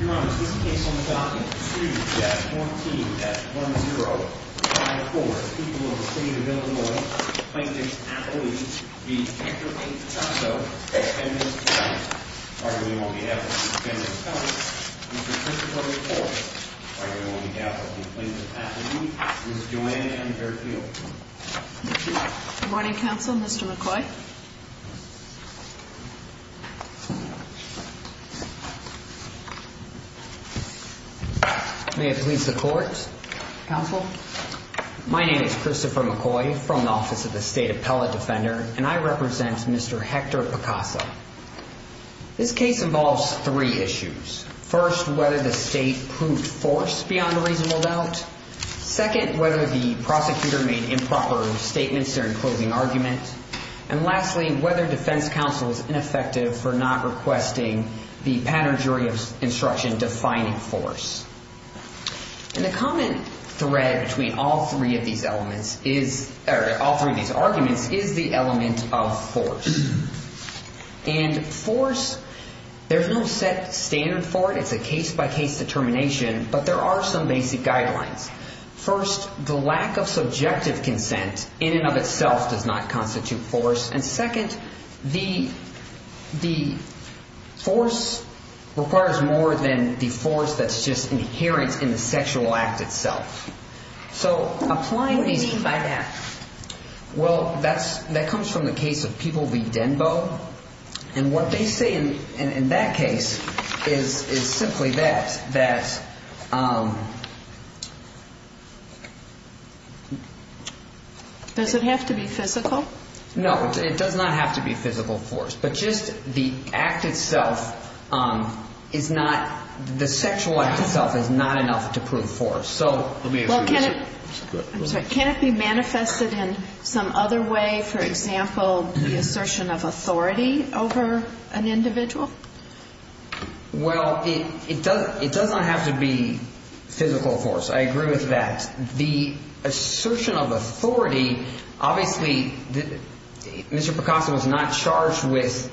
Your Honour, this case on document 2-14-1054, People of the City of Illinois, Plaintiff's Affiliate, v. Victor A. Picaso, defendant's account, arguing on behalf of the defendant's family, Mr. Christopher McCoy, arguing on behalf of the Plaintiff's Affiliate, Mrs. Joanne M. Fairfield. Good morning, Counsel, Mr. McCoy. May it please the Court. Counsel. My name is Christopher McCoy from the Office of the State Appellate Defender, and I represent Mr. Hector Picaso. This case involves three issues. First, whether the state proved force beyond a reasonable doubt. Second, whether the prosecutor made improper statements during closing argument. And lastly, whether defense counsel is ineffective for not requesting the pattern jury of instruction defining force. And the common thread between all three of these arguments is the element of force. And force, there's no set standard for it. It's a case-by-case determination, but there are some basic guidelines. First, the lack of subjective consent in and of itself does not constitute force. And second, the force requires more than the force that's just inherent in the sexual act itself. So applying these… What do you mean by that? Well, that comes from the case of People v. Denbo. And what they say in that case is simply that… Does it have to be physical? No, it does not have to be physical force. But just the act itself is not, the sexual act itself is not enough to prove force. I'm sorry. Can it be manifested in some other way? For example, the assertion of authority over an individual? Well, it does not have to be physical force. I agree with that. The assertion of authority, obviously, Mr. Picasso was not charged with,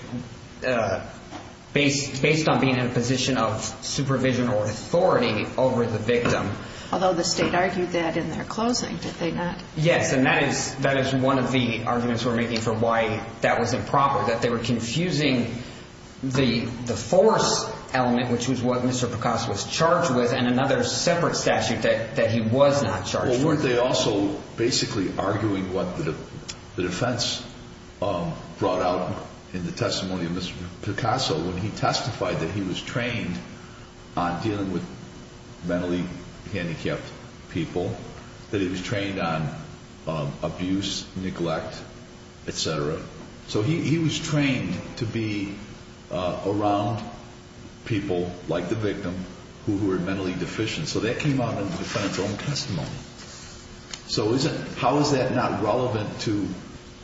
based on being in a position of supervision or authority over the victim. Although the State argued that in their closing, did they not? Yes, and that is one of the arguments we're making for why that was improper, that they were confusing the force element, which was what Mr. Picasso was charged with, and another separate statute that he was not charged with. Well, weren't they also basically arguing what the defense brought out in the testimony of Mr. Picasso when he testified that he was trained on dealing with mentally handicapped people, that he was trained on abuse, neglect, etc.? So he was trained to be around people like the victim who were mentally deficient. So that came out in the defendant's own testimony. So how is that not relevant to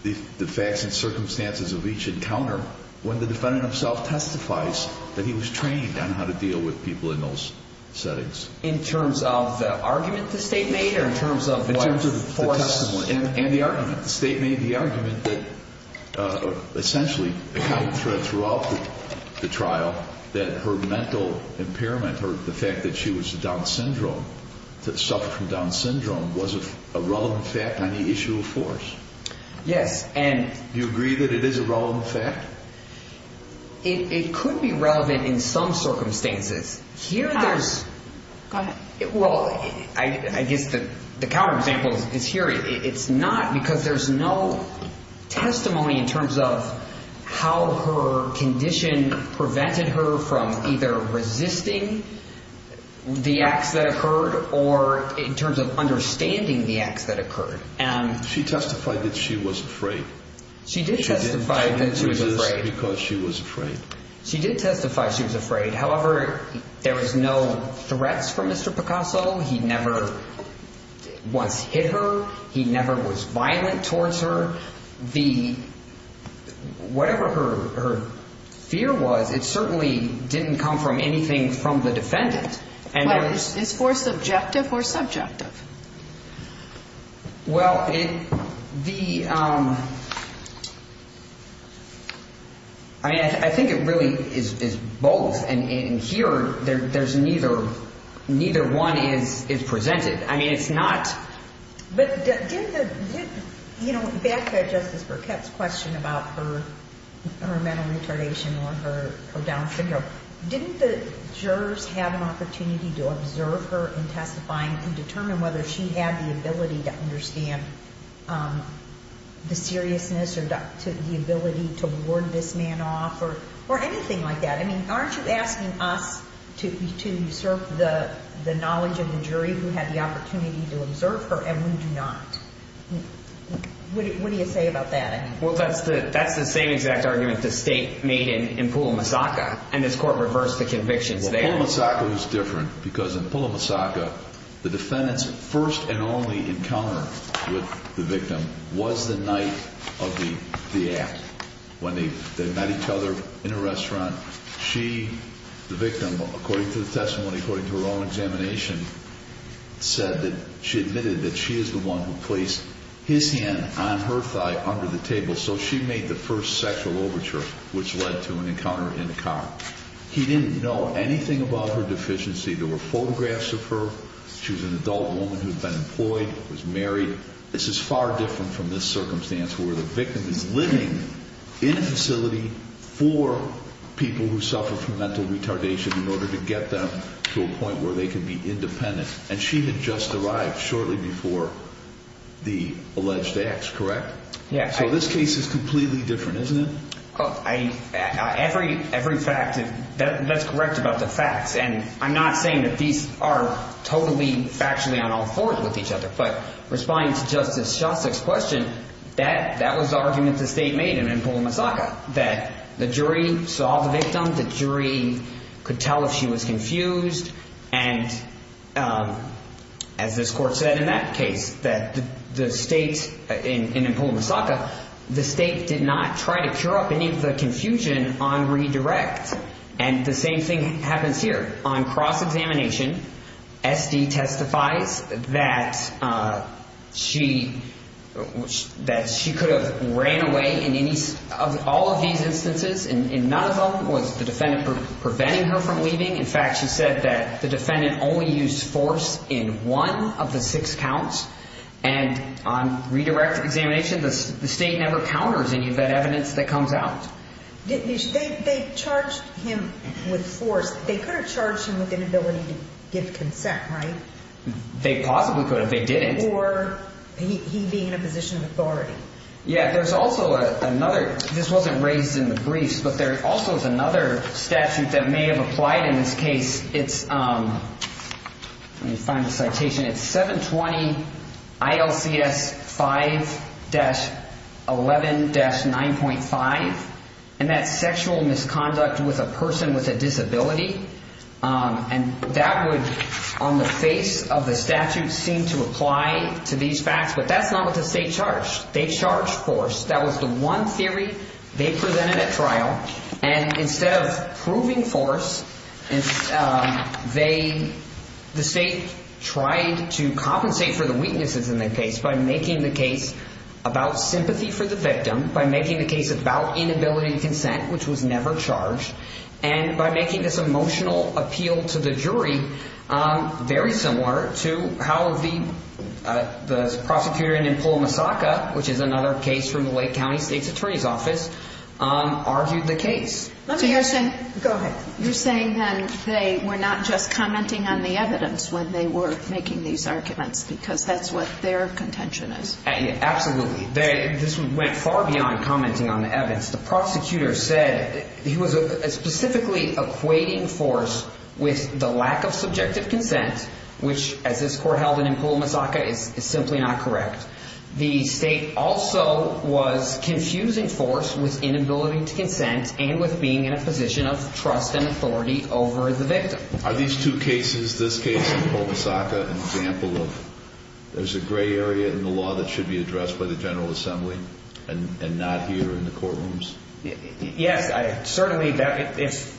the facts and circumstances of each encounter when the defendant himself testifies that he was trained on how to deal with people in those settings? In terms of the argument the State made or in terms of what force? In terms of the testimony and the argument. The State made the argument that essentially throughout the trial that her mental impairment or the fact that she was Down syndrome, suffered from Down syndrome, was a relevant fact on the issue of force. Yes. Do you agree that it is a relevant fact? It could be relevant in some circumstances. Here there's... Go ahead. Well, I guess the counterexample is here. It's not because there's no testimony in terms of how her condition prevented her from either resisting the acts that occurred or in terms of understanding the acts that occurred. She testified that she was afraid. She did testify that she was afraid. She didn't resist because she was afraid. She did testify she was afraid. However, there was no threats from Mr. Picasso. He never once hit her. He never was violent towards her. Whatever her fear was, it certainly didn't come from anything from the defendant. Is force subjective or subjective? Well, the... I mean, I think it really is both. And here neither one is presented. I mean, it's not... But did the... You know, back to Justice Burkett's question about her mental retardation or her Down syndrome, didn't the jurors have an opportunity to observe her in testifying and determine whether she had the ability to understand the seriousness or the ability to ward this man off or anything like that? I mean, aren't you asking us to usurp the knowledge of the jury who had the opportunity to observe her, and we do not? What do you say about that? Well, that's the same exact argument the State made in Pula, Massaca, and this Court reversed the convictions there. Well, Pula, Massaca was different because in Pula, Massaca, the defendant's first and only encounter with the victim was the night of the act, when they met each other in a restaurant. She, the victim, according to the testimony, according to her own examination, said that she admitted that she is the one who placed his hand on her thigh under the table, so she made the first sexual overture, which led to an encounter in the car. He didn't know anything about her deficiency. There were photographs of her. She was an adult woman who had been employed, was married. This is far different from this circumstance where the victim is living in a facility for people who suffer from mental retardation in order to get them to a point where they can be independent, and she had just arrived shortly before the alleged acts, correct? Yes. So this case is completely different, isn't it? Every fact that's correct about the facts, and I'm not saying that these are totally factually on all fours with each other, but responding to Justice Shostak's question, that was the argument the state made in Empul, Massaka, that the jury saw the victim, the jury could tell if she was confused, and as this court said in that case, that the state in Empul, Massaka, the state did not try to cure up any of the confusion on redirect, and the same thing happens here. On cross-examination, SD testifies that she could have ran away in all of these instances, and none of them was the defendant preventing her from leaving. In fact, she said that the defendant only used force in one of the six counts, and on redirect examination, the state never counters any of that evidence that comes out. They charged him with force. They could have charged him with inability to give consent, right? They possibly could have. They didn't. Or he being in a position of authority. Yeah. There's also another. This wasn't raised in the briefs, but there also is another statute that may have applied in this case. Let me find the citation. It's 720 ILCS 5-11-9.5, and that's sexual misconduct with a person with a disability, and that would, on the face of the statute, seem to apply to these facts, but that's not what the state charged. They charged force. That was the one theory they presented at trial, and instead of proving force, the state tried to compensate for the weaknesses in the case by making the case about sympathy for the victim, by making the case about inability to consent, which was never charged, and by making this emotional appeal to the jury very similar to how the prosecutor in Empul, Massaca, which is another case from the Lake County State's Attorney's Office, argued the case. You're saying then they were not just commenting on the evidence when they were making these arguments because that's what their contention is. Absolutely. This went far beyond commenting on the evidence. The prosecutor said he was specifically equating force with the lack of subjective consent, which, as this Court held in Empul, Massaca, is simply not correct. The state also was confusing force with inability to consent and with being in a position of trust and authority over the victim. Are these two cases, this case and Empul, Massaca, an example of there's a gray area in the law that should be addressed by the General Assembly and not here in the courtrooms? Yes. Certainly, the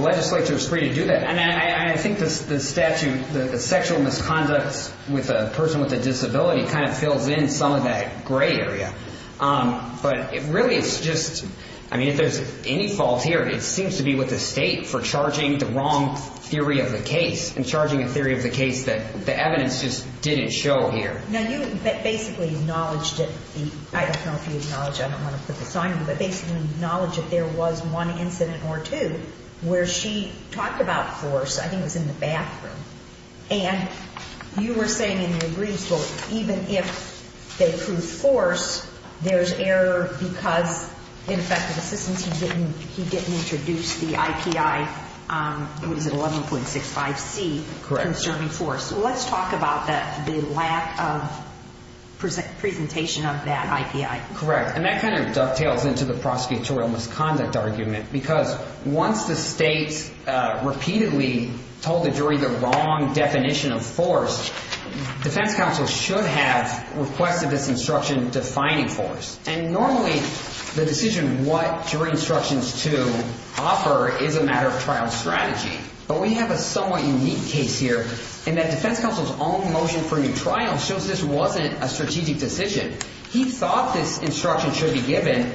legislature is free to do that. I think the statute, the sexual misconducts with a person with a disability, kind of fills in some of that gray area. But really, it's just, I mean, if there's any fault here, it seems to be with the state for charging the wrong theory of the case and charging a theory of the case that the evidence just didn't show here. Now, you basically acknowledged it. I don't know if you acknowledged it. I don't want to put the sign on it. But basically acknowledged that there was one incident or two where she talked about force, I think it was in the bathroom, and you were saying in your briefs, even if they prove force, there's error because in effective assistance he didn't introduce the IPI, what is it, 11.65C, concerning force. Let's talk about the lack of presentation of that IPI. Correct. And that kind of dovetails into the prosecutorial misconduct argument because once the state repeatedly told the jury the wrong definition of force, defense counsel should have requested this instruction defining force. And normally the decision what jury instructions to offer is a matter of trial strategy. But we have a somewhat unique case here in that defense counsel's own motion for new trial shows this wasn't a strategic decision. He thought this instruction should be given.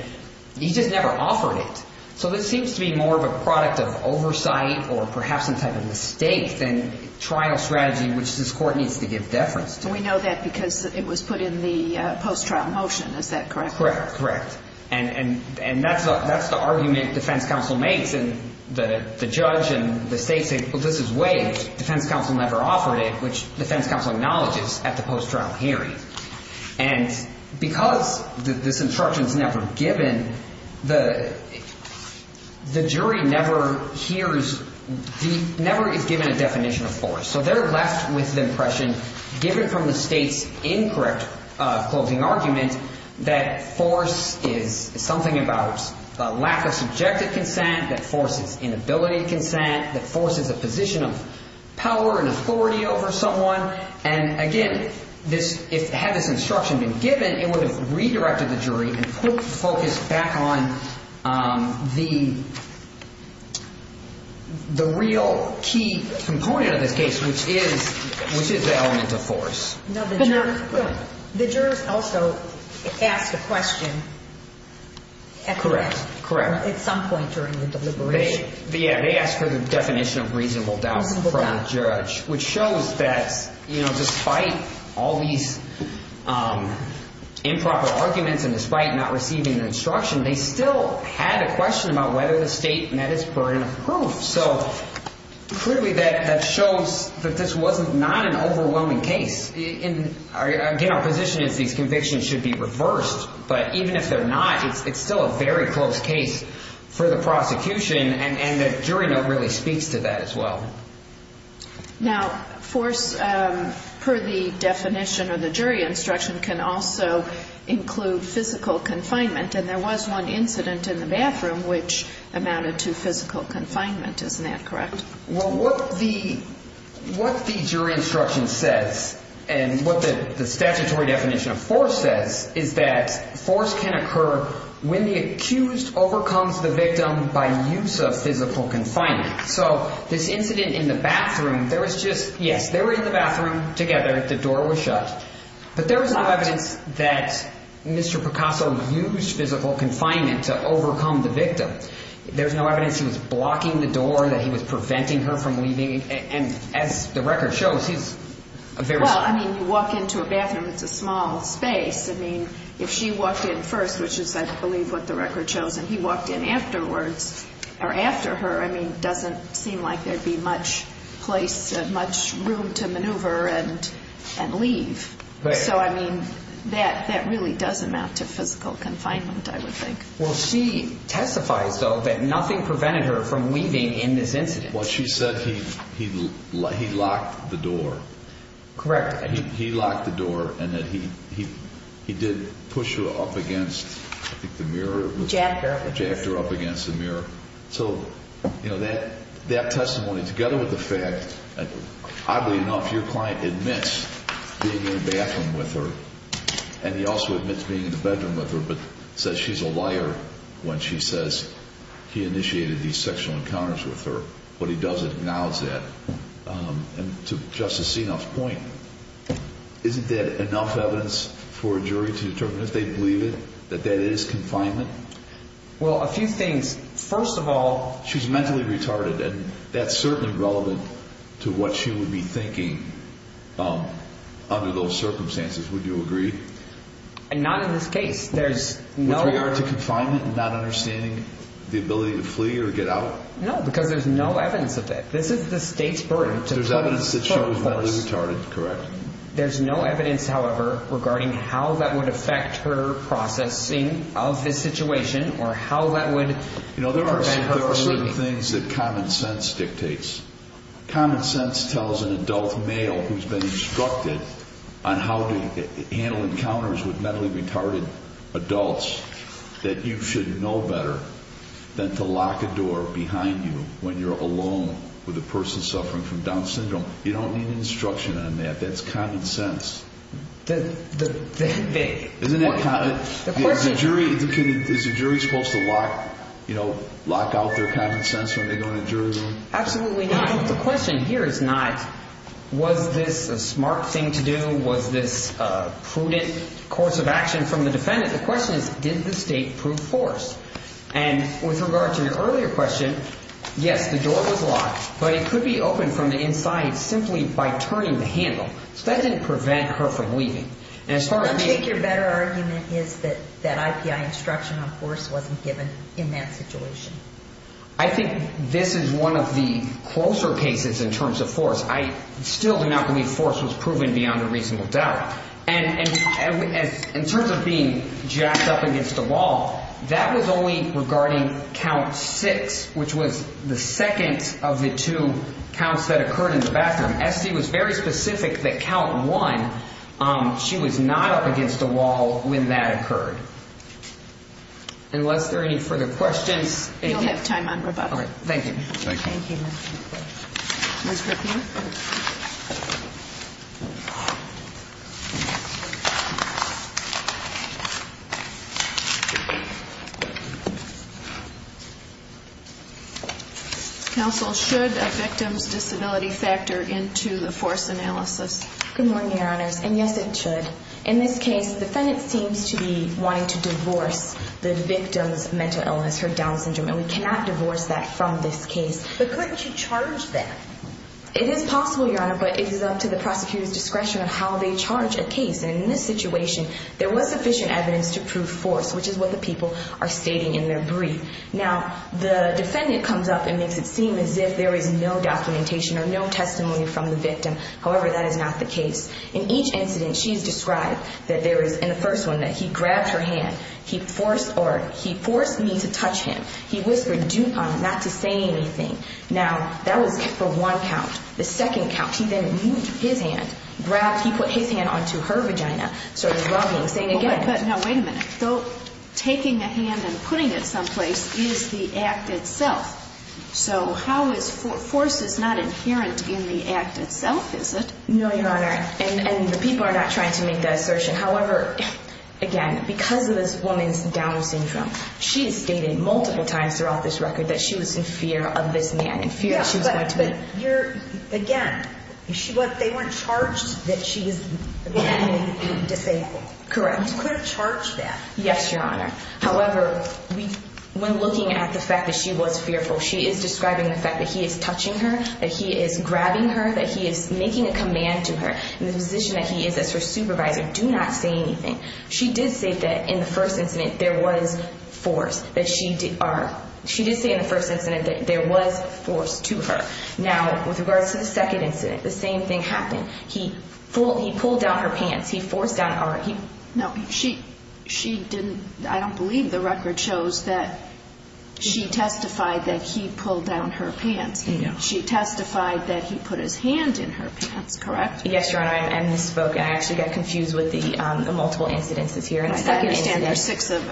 He just never offered it. So this seems to be more of a product of oversight or perhaps some type of mistake than trial strategy which this court needs to give deference to. We know that because it was put in the post-trial motion. Is that correct? Correct. And that's the argument defense counsel makes. And the judge and the state say, well, this is waived. Defense counsel never offered it, which defense counsel acknowledges at the post-trial hearing. And because this instruction is never given, the jury never is given a definition of force. So they're left with the impression given from the state's incorrect closing argument that force is something about a lack of subjective consent, that force is inability to consent, that force is a position of power and authority over someone. And again, had this instruction been given, it would have redirected the jury and focused back on the real key component of this case, which is the element of force. The jurors also asked a question at some point during the deliberation. They asked for the definition of reasonable doubt from the judge, which shows that despite all these improper arguments and despite not receiving the instruction, they still had a question about whether the state met its burden of proof. So clearly that shows that this was not an overwhelming case. Again, our position is these convictions should be reversed. But even if they're not, it's still a very close case for the prosecution, and the jury note really speaks to that as well. Now, force, per the definition of the jury instruction, can also include physical confinement. And there was one incident in the bathroom which amounted to physical confinement. Isn't that correct? Well, what the jury instruction says and what the statutory definition of force says is that force can occur when the accused overcomes the victim by use of physical confinement. So this incident in the bathroom, there was just, yes, they were in the bathroom together. The door was shut. But there was no evidence that Mr. Picasso used physical confinement to overcome the victim. There was no evidence he was blocking the door, that he was preventing her from leaving. And as the record shows, he's a very – Well, I mean, you walk into a bathroom, it's a small space. I mean, if she walked in first, which is, I believe, what the record shows, and he walked in afterwards or after her, I mean, it doesn't seem like there would be much room to maneuver and leave. So, I mean, that really does amount to physical confinement, I would think. Well, she testifies, though, that nothing prevented her from leaving in this incident. Well, she said he locked the door. Correct. He locked the door and that he did push her up against, I think, the mirror. Jacked her. Jacked her up against the mirror. So, you know, that testimony, together with the fact that, oddly enough, your client admits being in the bathroom with her, and he also admits being in the bedroom with her, but says she's a liar when she says he initiated these sexual encounters with her. But he doesn't acknowledge that. And to Justice Senoff's point, isn't that enough evidence for a jury to determine if they believe it, that that is confinement? Well, a few things. First of all, she's mentally retarded, and that's certainly relevant to what she would be thinking under those circumstances. Would you agree? Not in this case. With regard to confinement and not understanding the ability to flee or get out? No, because there's no evidence of it. This is the state's burden to put forth. There's evidence that she was mentally retarded, correct. There's no evidence, however, regarding how that would affect her processing of this situation or how that would prevent her from leaving. You know, there are certain things that common sense dictates. Common sense tells an adult male who's been instructed on how to handle encounters with mentally retarded adults that you should know better than to lock a door behind you when you're alone with a person suffering from Down syndrome. You don't need instruction on that. That's common sense. Isn't that common? Is the jury supposed to lock out their common sense when they go in a jury room? Absolutely not. The question here is not, was this a smart thing to do? Was this a prudent course of action from the defendant? The question is, did the state prove forced? And with regard to your earlier question, yes, the door was locked, but it could be opened from the inside simply by turning the handle. So that didn't prevent her from leaving. I take your better argument is that that IPI instruction on force wasn't given in that situation. I think this is one of the closer cases in terms of force. I still do not believe force was proven beyond a reasonable doubt. And in terms of being jacked up against a wall, that was only regarding count six, which was the second of the two counts that occurred in the bathroom. Estee was very specific that count one, she was not up against a wall when that occurred. Unless there are any further questions. We don't have time on rebuttal. Thank you. Thank you. Ms. Ripley. Counsel, should a victim's disability factor into the force analysis? Good morning, Your Honors. And yes, it should. In this case, the defendant seems to be wanting to divorce the victim's mental illness, her Down syndrome, and we cannot divorce that from this case. But couldn't you charge that? It is possible, Your Honor, but it is up to the prosecutor's discretion of how they charge a case. And in this situation, there was sufficient evidence to prove force, which is what the people are stating in their brief. Now, the defendant comes up and makes it seem as if there is no documentation or no testimony from the victim. However, that is not the case. In each incident, she has described that there is, in the first one, that he grabbed her hand. He forced me to touch him. He whispered, do not to say anything. Now, that was for one count. The second count, he then moved his hand, grabbed, he put his hand onto her vagina, started rubbing, saying again. But now, wait a minute. Taking a hand and putting it someplace is the act itself. So how is force not inherent in the act itself, is it? No, Your Honor. And the people are not trying to make that assertion. However, again, because of this woman's Down syndrome, she has stated multiple times throughout this record that she was in fear of this man, in fear that she was going to be. Yeah, but you're, again, they weren't charged that she was pretending to be disabled. Correct. You couldn't charge that. Yes, Your Honor. However, when looking at the fact that she was fearful, she is describing the fact that he is touching her, that he is grabbing her, that he is making a command to her in the position that he is as her supervisor, do not say anything. She did say that in the first incident there was force. She did say in the first incident that there was force to her. Now, with regards to the second incident, the same thing happened. He pulled down her pants. He forced down her. No, she didn't. I don't believe the record shows that she testified that he pulled down her pants. No. She testified that he put his hand in her pants, correct? Yes, Your Honor. I misspoke. I actually got confused with the multiple incidences here. I understand there's six of,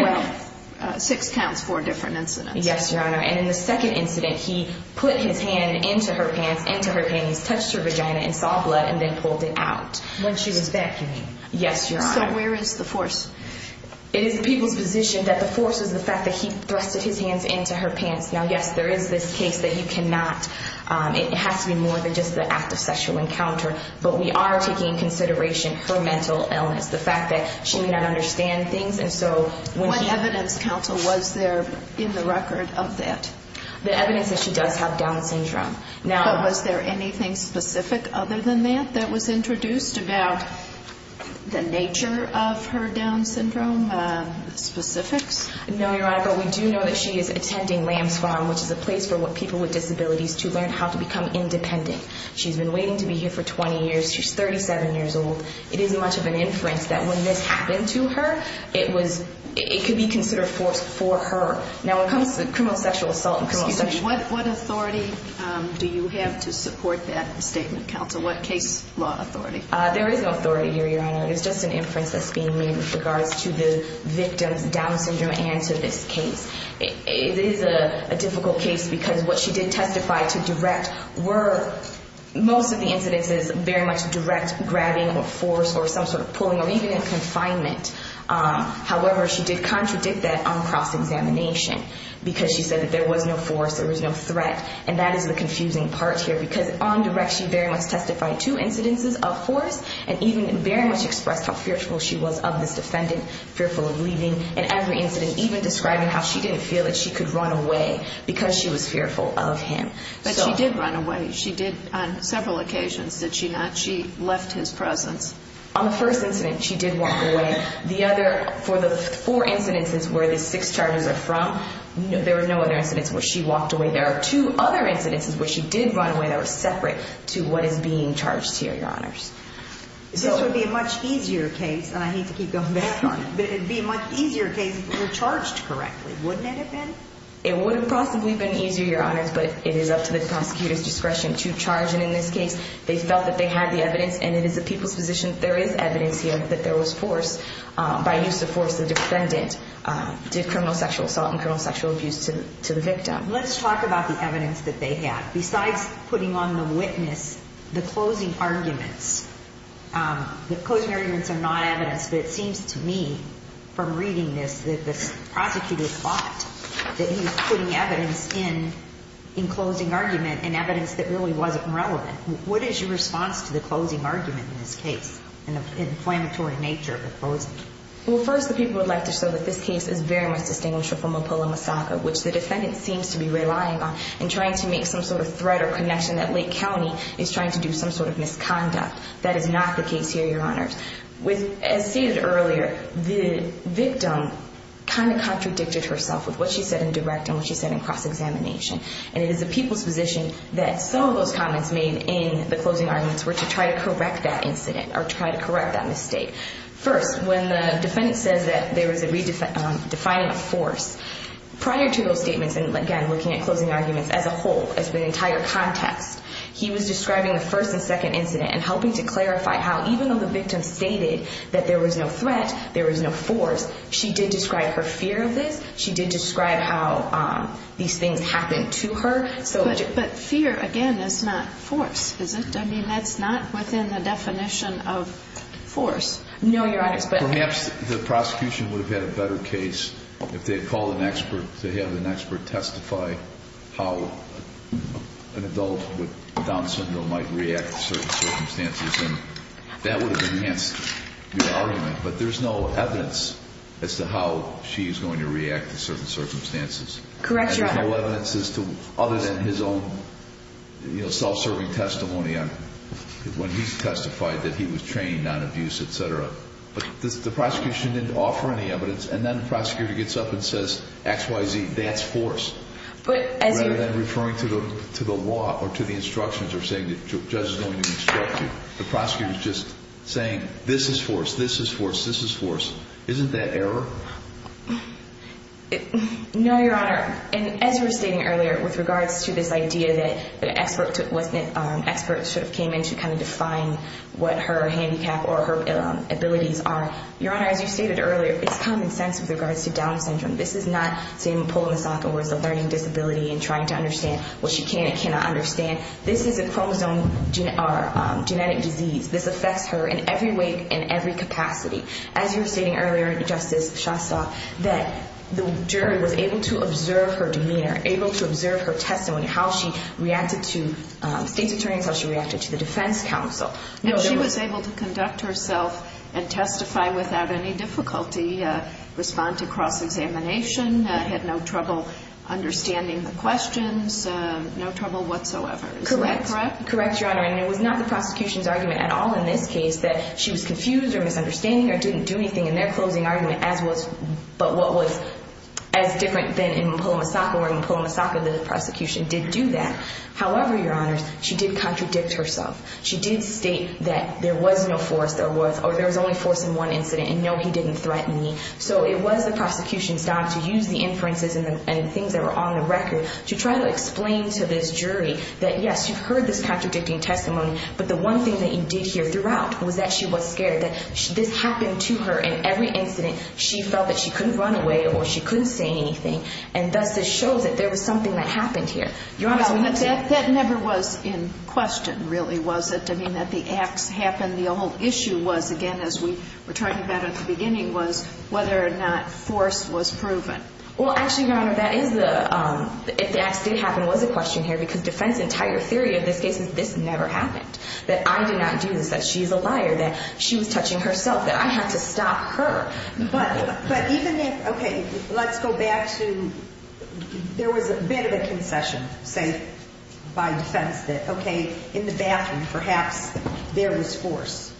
well, six counts, four different incidents. Yes, Your Honor. And in the second incident, he put his hand into her pants, into her pants, touched her vagina and saw blood and then pulled it out. When she was vacuuming. Yes, Your Honor. So where is the force? It is the people's position that the force is the fact that he thrusted his hands into her pants. Now, yes, there is this case that you cannot, it has to be more than just the act of sexual encounter, but we are taking into consideration her mental illness, the fact that she may not understand things. What evidence, counsel, was there in the record of that? The evidence that she does have Down syndrome. But was there anything specific other than that, that was introduced about the nature of her Down syndrome specifics? No, Your Honor, but we do know that she is attending Lamb's Farm, which is a place for people with disabilities to learn how to become independent. She's been waiting to be here for 20 years. She's 37 years old. It isn't much of an inference that when this happened to her, it could be considered force for her. Now, when it comes to criminal sexual assault and criminal sexual assault. What authority do you have to support that statement, counsel? What case law authority? There is no authority here, Your Honor. It's just an inference that's being made with regards to the victim's Down syndrome and to this case. It is a difficult case because what she did testify to direct were most of the incidences very much direct grabbing or force or some sort of pulling or even in confinement. However, she did contradict that on cross-examination because she said that there was no force, there was no threat, and that is the confusing part here. Because on direct, she very much testified to incidences of force and even very much expressed how fearful she was of this defendant, fearful of leaving. And every incident, even describing how she didn't feel that she could run away because she was fearful of him. But she did run away. She did on several occasions, did she not? She left his presence. On the first incident, she did walk away. The other, for the four incidences where the six charges are from, there were no other incidents where she walked away. There are two other incidences where she did run away that were separate to what is being charged here, Your Honors. This would be a much easier case, and I hate to keep going back on it, but it would be a much easier case if it were charged correctly, wouldn't it have been? It wouldn't possibly have been easier, Your Honors, but it is up to the prosecutor's discretion to charge. And in this case, they felt that they had the evidence, and it is the people's position that there is evidence here that there was force by use of force. The defendant did criminal sexual assault and criminal sexual abuse to the victim. Let's talk about the evidence that they have. Besides putting on the witness the closing arguments, the closing arguments are not evidence, but it seems to me from reading this that the prosecutor thought that he was putting evidence in, in closing argument and evidence that really wasn't relevant. What is your response to the closing argument in this case and the inflammatory nature of the closing? Well, first, the people would like to show that this case is very much distinguished from Oppola-Masaka, which the defendant seems to be relying on and trying to make some sort of threat or connection that Lake County is trying to do some sort of misconduct. That is not the case here, Your Honors. As stated earlier, the victim kind of contradicted herself with what she said in direct and what she said in cross-examination. And it is the people's position that some of those comments made in the closing arguments were to try to correct that incident or try to correct that mistake. First, when the defendant says that there was a redefining of force, prior to those statements, and again, looking at closing arguments as a whole, as the entire context, he was describing the first and second incident and helping to clarify how even though the victim stated that there was no threat, there was no force, she did describe her fear of this, she did describe how these things happened to her. But fear, again, is not force, is it? I mean, that's not within the definition of force. No, Your Honors. Perhaps the prosecution would have had a better case if they had called an expert to have an expert testify how an adult with Down syndrome might react to certain circumstances. And that would have enhanced your argument. But there's no evidence as to how she is going to react to certain circumstances. Correct, Your Honor. And there's no evidence other than his own self-serving testimony when he testified that he was trained on abuse, et cetera. But the prosecution didn't offer any evidence. And then the prosecutor gets up and says, X, Y, Z, that's force, rather than referring to the law or to the instructions or saying the judge is going to instruct you. The prosecutor is just saying, this is force, this is force, this is force. Isn't that error? No, Your Honor. And as you were stating earlier with regards to this idea that an expert should have came in to kind of define what her handicap or her abilities are, Your Honor, as you stated earlier, it's common sense with regards to Down syndrome. This is not, say, pulling a sock in words of learning disability and trying to understand what she can and cannot understand. This is a chromosome genetic disease. This affects her in every way and every capacity. As you were stating earlier, Justice Shasta, that the jury was able to observe her demeanor, able to observe her testimony, how she reacted to state's attorneys, how she reacted to the defense counsel. And she was able to conduct herself and testify without any difficulty, respond to cross-examination, had no trouble understanding the questions, no trouble whatsoever. Is that correct? Correct, Your Honor. And it was not the prosecution's argument at all in this case that she was confused or misunderstanding or didn't do anything in their closing argument, but what was as different than pulling a sock or pulling a sock in the prosecution did do that. However, Your Honor, she did contradict herself. She did state that there was no force or there was only force in one incident and, no, he didn't threaten me. So it was the prosecution's job to use the inferences and things that were on the record to try to explain to this jury that, yes, you heard this contradicting testimony, but the one thing that you did hear throughout was that she was scared, that this happened to her in every incident. She felt that she couldn't run away or she couldn't say anything, and thus this shows that there was something that happened here. Your Honor, that never was in question, really, was it, to mean that the acts happened? The whole issue was, again, as we were talking about at the beginning, was whether or not force was proven. Well, actually, Your Honor, if the acts did happen was a question here because defense's entire theory of this case is this never happened, that I did not do this, that she's a liar, that she was touching herself, that I had to stop her. But even if, okay, let's go back to there was a bit of a concession. Say, by defense, that, okay, in the bathroom, perhaps, there was force.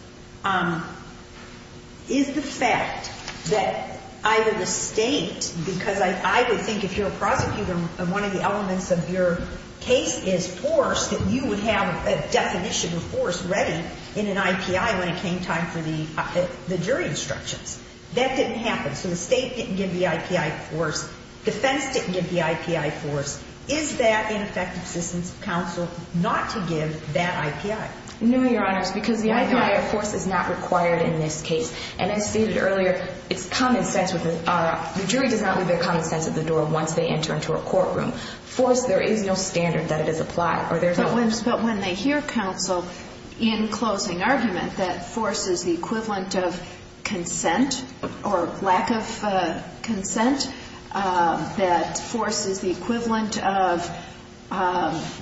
Is the fact that either the state, because I would think if you're a prosecutor and one of the elements of your case is force, that you would have a definition of force ready in an IPI when it came time for the jury instructions. That didn't happen, so the state didn't give the IPI force, defense didn't give the IPI force. Is that ineffective assistance of counsel not to give that IPI? No, Your Honors, because the IPI force is not required in this case. And as stated earlier, it's common sense, the jury does not leave their common sense at the door once they enter into a courtroom. Force, there is no standard that it is applied. But when they hear counsel in closing argument that force is the equivalent of consent or lack of consent, that force is the equivalent of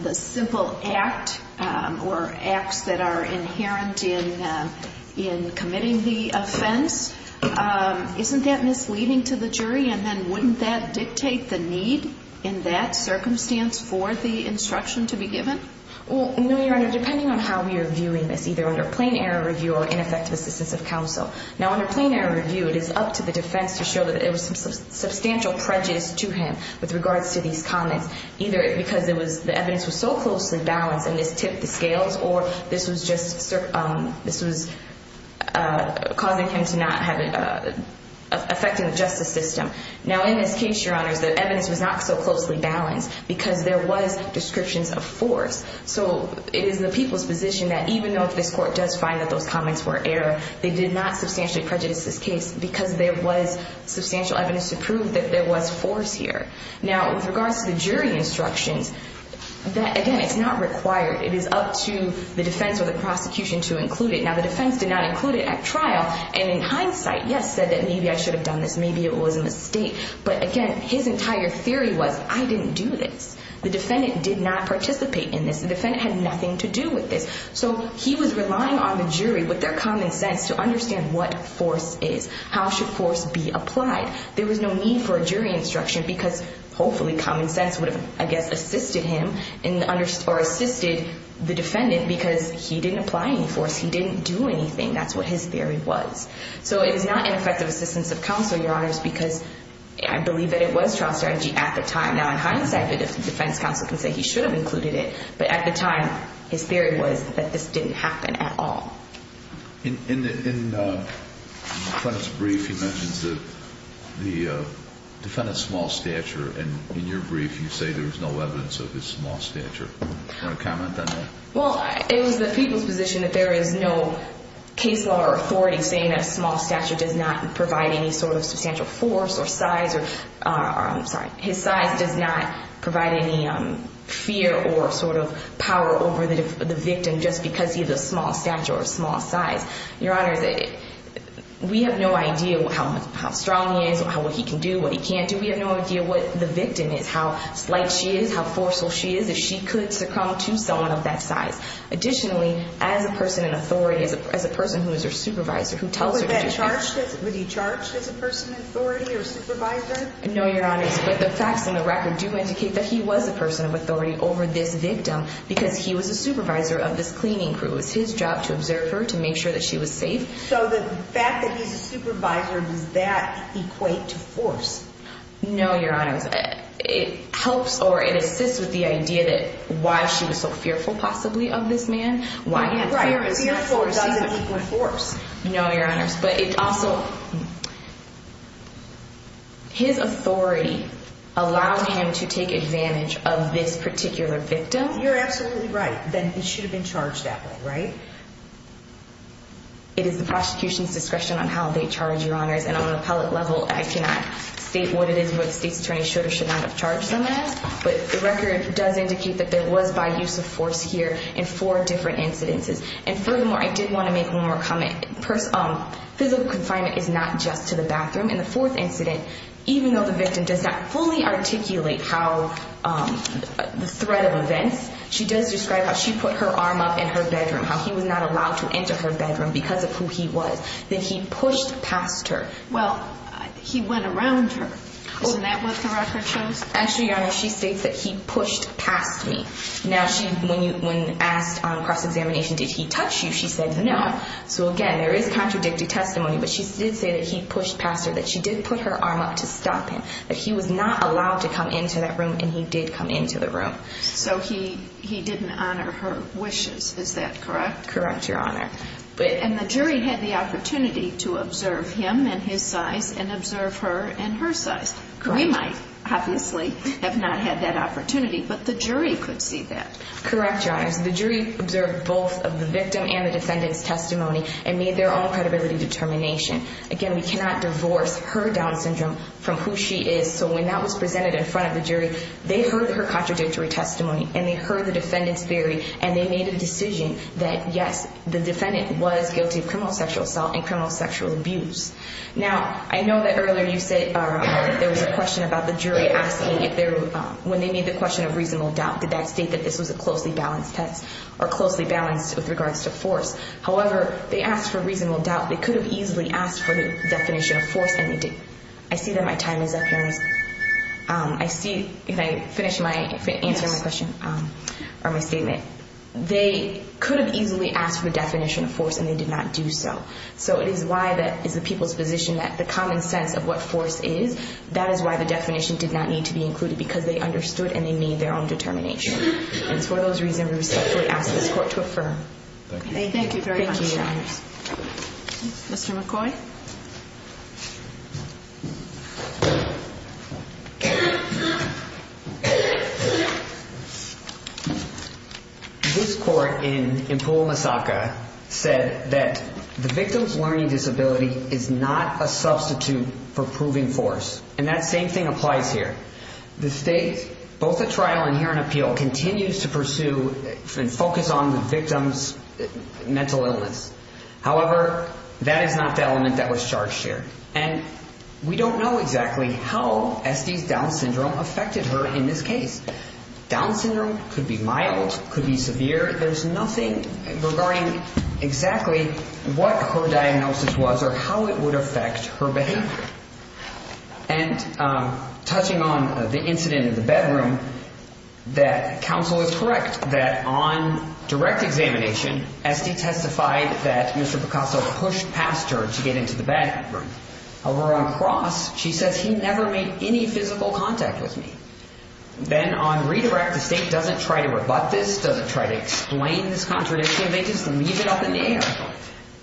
the simple act or acts that are inherent in committing the offense, isn't that misleading to the jury? And then wouldn't that dictate the need in that circumstance for the instruction to be given? Well, no, Your Honor, depending on how we are viewing this, either under plain error review or ineffective assistance of counsel. Now, under plain error review, it is up to the defense to show that there was some substantial prejudice to him with regards to these comments, either because the evidence was so closely balanced and this tipped the scales or this was just causing him to not have it affecting the justice system. Now, in this case, Your Honors, the evidence was not so closely balanced because there was descriptions of force. So it is the people's position that even though this court does find that those comments were error, they did not substantially prejudice this case because there was substantial evidence to prove that there was force here. Now, with regards to the jury instructions, again, it's not required. It is up to the defense or the prosecution to include it. Now, the defense did not include it at trial, and in hindsight, yes, said that maybe I should have done this, maybe it was a mistake. But again, his entire theory was I didn't do this. The defendant did not participate in this. The defendant had nothing to do with this. So he was relying on the jury with their common sense to understand what force is. How should force be applied? There was no need for a jury instruction because hopefully common sense would have, I guess, assisted him or assisted the defendant because he didn't apply any force. He didn't do anything. That's what his theory was. So it is not ineffective assistance of counsel, Your Honors, because I believe that it was trial strategy at the time. Now, in hindsight, the defense counsel can say he should have included it, but at the time his theory was that this didn't happen at all. In the defendant's brief, he mentions the defendant's small stature, and in your brief you say there was no evidence of his small stature. Do you want to comment on that? Well, it was the people's position that there is no case law or authority saying that a small stature does not provide any sort of substantial force or size or, I'm sorry, his size does not provide any fear or sort of power over the victim just because he has a small stature or a small size. Your Honors, we have no idea how strong he is or what he can do, what he can't do. We have no idea what the victim is, how slight she is, how forceful she is, if she could succumb to someone of that size. Additionally, as a person in authority, as a person who is her supervisor, who tells her to do things. Was that charged? Was he charged as a person in authority or supervisor? No, Your Honors. But the facts in the record do indicate that he was a person of authority over this victim because he was a supervisor of this cleaning crew. It was his job to observe her, to make sure that she was safe. So the fact that he's a supervisor, does that equate to force? No, Your Honors. It helps or it assists with the idea that why she was so fearful possibly of this man. Right, fear and force is an equal force. No, Your Honors. But it also, his authority allowed him to take advantage of this particular victim. You're absolutely right. Then he should have been charged that way, right? It is the prosecution's discretion on how they charge, Your Honors. And on an appellate level, I cannot state what it is, but the state's attorney should or should not have charged him as. But the record does indicate that there was by use of force here in four different incidences. And furthermore, I did want to make one more comment. Physical confinement is not just to the bathroom. In the fourth incident, even though the victim does not fully articulate how the threat of events, she does describe how she put her arm up in her bedroom, how he was not allowed to enter her bedroom because of who he was. Then he pushed past her. Well, he went around her. Wasn't that what the record shows? Actually, Your Honors, she states that he pushed past me. Now, when asked on cross-examination, did he touch you, she said no. So, again, there is contradicting testimony. But she did say that he pushed past her, that she did put her arm up to stop him, that he was not allowed to come into that room, and he did come into the room. So he didn't honor her wishes. Is that correct? Correct, Your Honor. And the jury had the opportunity to observe him and his size and observe her and her size. We might, obviously, have not had that opportunity, but the jury could see that. Correct, Your Honors. The jury observed both of the victim and the defendant's testimony and made their own credibility determination. Again, we cannot divorce her Down syndrome from who she is. So when that was presented in front of the jury, they heard her contradictory testimony and they heard the defendant's theory and they made a decision that, yes, the defendant was guilty of criminal sexual assault and criminal sexual abuse. Now, I know that earlier you said there was a question about the jury asking when they made the question of reasonable doubt, did that state that this was a closely balanced test or closely balanced with regards to force. However, they asked for reasonable doubt. They could have easily asked for the definition of force and they didn't. I see that my time is up, Your Honor. I see if I finish my answer to my question or my statement. They could have easily asked for the definition of force and they did not do so. So it is why that is the people's position that the common sense of what force is, that is why the definition did not need to be included because they understood and they made their own determination. And for those reasons, we respectfully ask this court to affirm. Thank you. Thank you very much. Thank you, Your Honors. Mr. McCoy. Thank you. This court in Empul, Massachusetts said that the victim's learning disability is not a substitute for proving force. And that same thing applies here. The state, both at trial and here in appeal, continues to pursue and focus on the victim's mental illness. However, that is not the element that was charged here. And we don't know exactly how Estee's Down syndrome affected her in this case. Down syndrome could be mild, could be severe. There's nothing regarding exactly what her diagnosis was or how it would affect her behavior. And touching on the incident in the bedroom, that counsel is correct that on direct examination, Estee testified that Mr. Picasso pushed past her to get into the bedroom. However, on cross, she says, he never made any physical contact with me. Then on redirect, the state doesn't try to rebut this, doesn't try to explain this contradiction. They just leave it up in the air.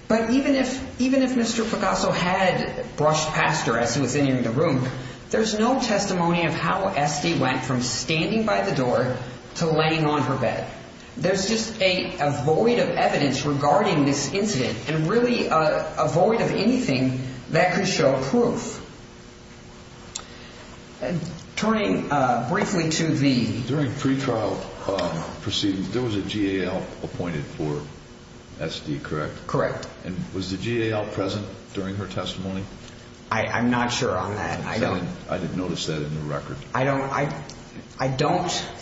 But even if Mr. Picasso had brushed past her as he was entering the room, there's no testimony of how Estee went from standing by the door to laying on her bed. There's just a void of evidence regarding this incident and really a void of anything that could show proof. Turning briefly to the... During pretrial proceedings, there was a GAL appointed for Estee, correct? Correct. And was the GAL present during her testimony? I'm not sure on that. I didn't notice that in the record. I don't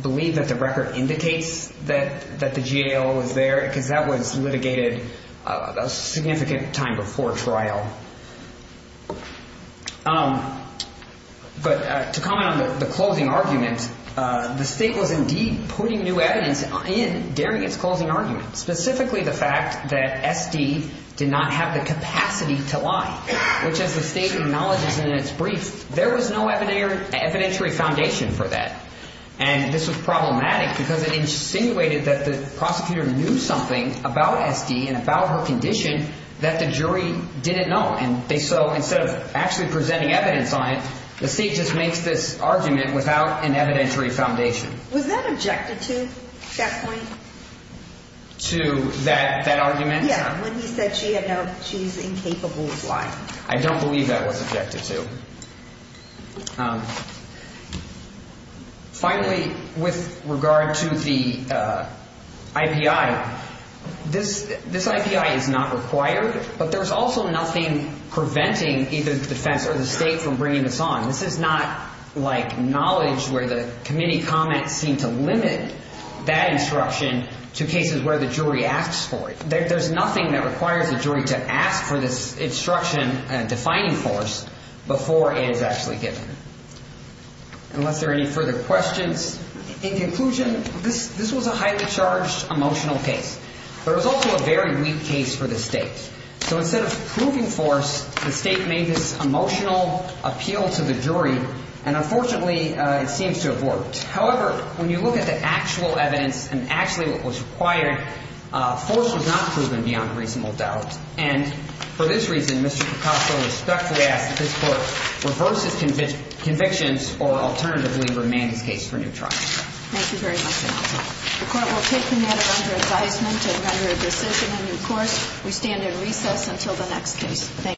believe that the record indicates that the GAL was there because that was litigated a significant time before trial. But to comment on the closing argument, the state was indeed putting new evidence in during its closing argument, specifically the fact that Estee did not have the capacity to lie, which as the state acknowledges in its brief, there was no evidentiary foundation for that. And this was problematic because it insinuated that the prosecutor knew something about Estee and about her condition that the jury didn't know. And so instead of actually presenting evidence on it, the state just makes this argument without an evidentiary foundation. Was that objected to at that point? To that argument? Yeah, when he said she's incapable of lying. I don't believe that was objected to. Finally, with regard to the IPI, this IPI is not required, but there's also nothing preventing either the defense or the state from bringing this on. This is not like knowledge where the committee comments seem to limit that instruction to cases where the jury asks for it. There's nothing that requires the jury to ask for this instruction and defining force before it is actually given, unless there are any further questions. In conclusion, this was a highly charged emotional case, but it was also a very weak case for the state. So instead of proving force, the state made this emotional appeal to the jury, and unfortunately, it seems to have worked. However, when you look at the actual evidence and actually what was required, force was not proven beyond reasonable doubt. And for this reason, Mr. Picasso respectfully asks that this Court reverse its convictions or alternatively remand this case for new trial. Thank you very much, counsel. The Court will take the matter under advisement and render a decision in due course. Thank you.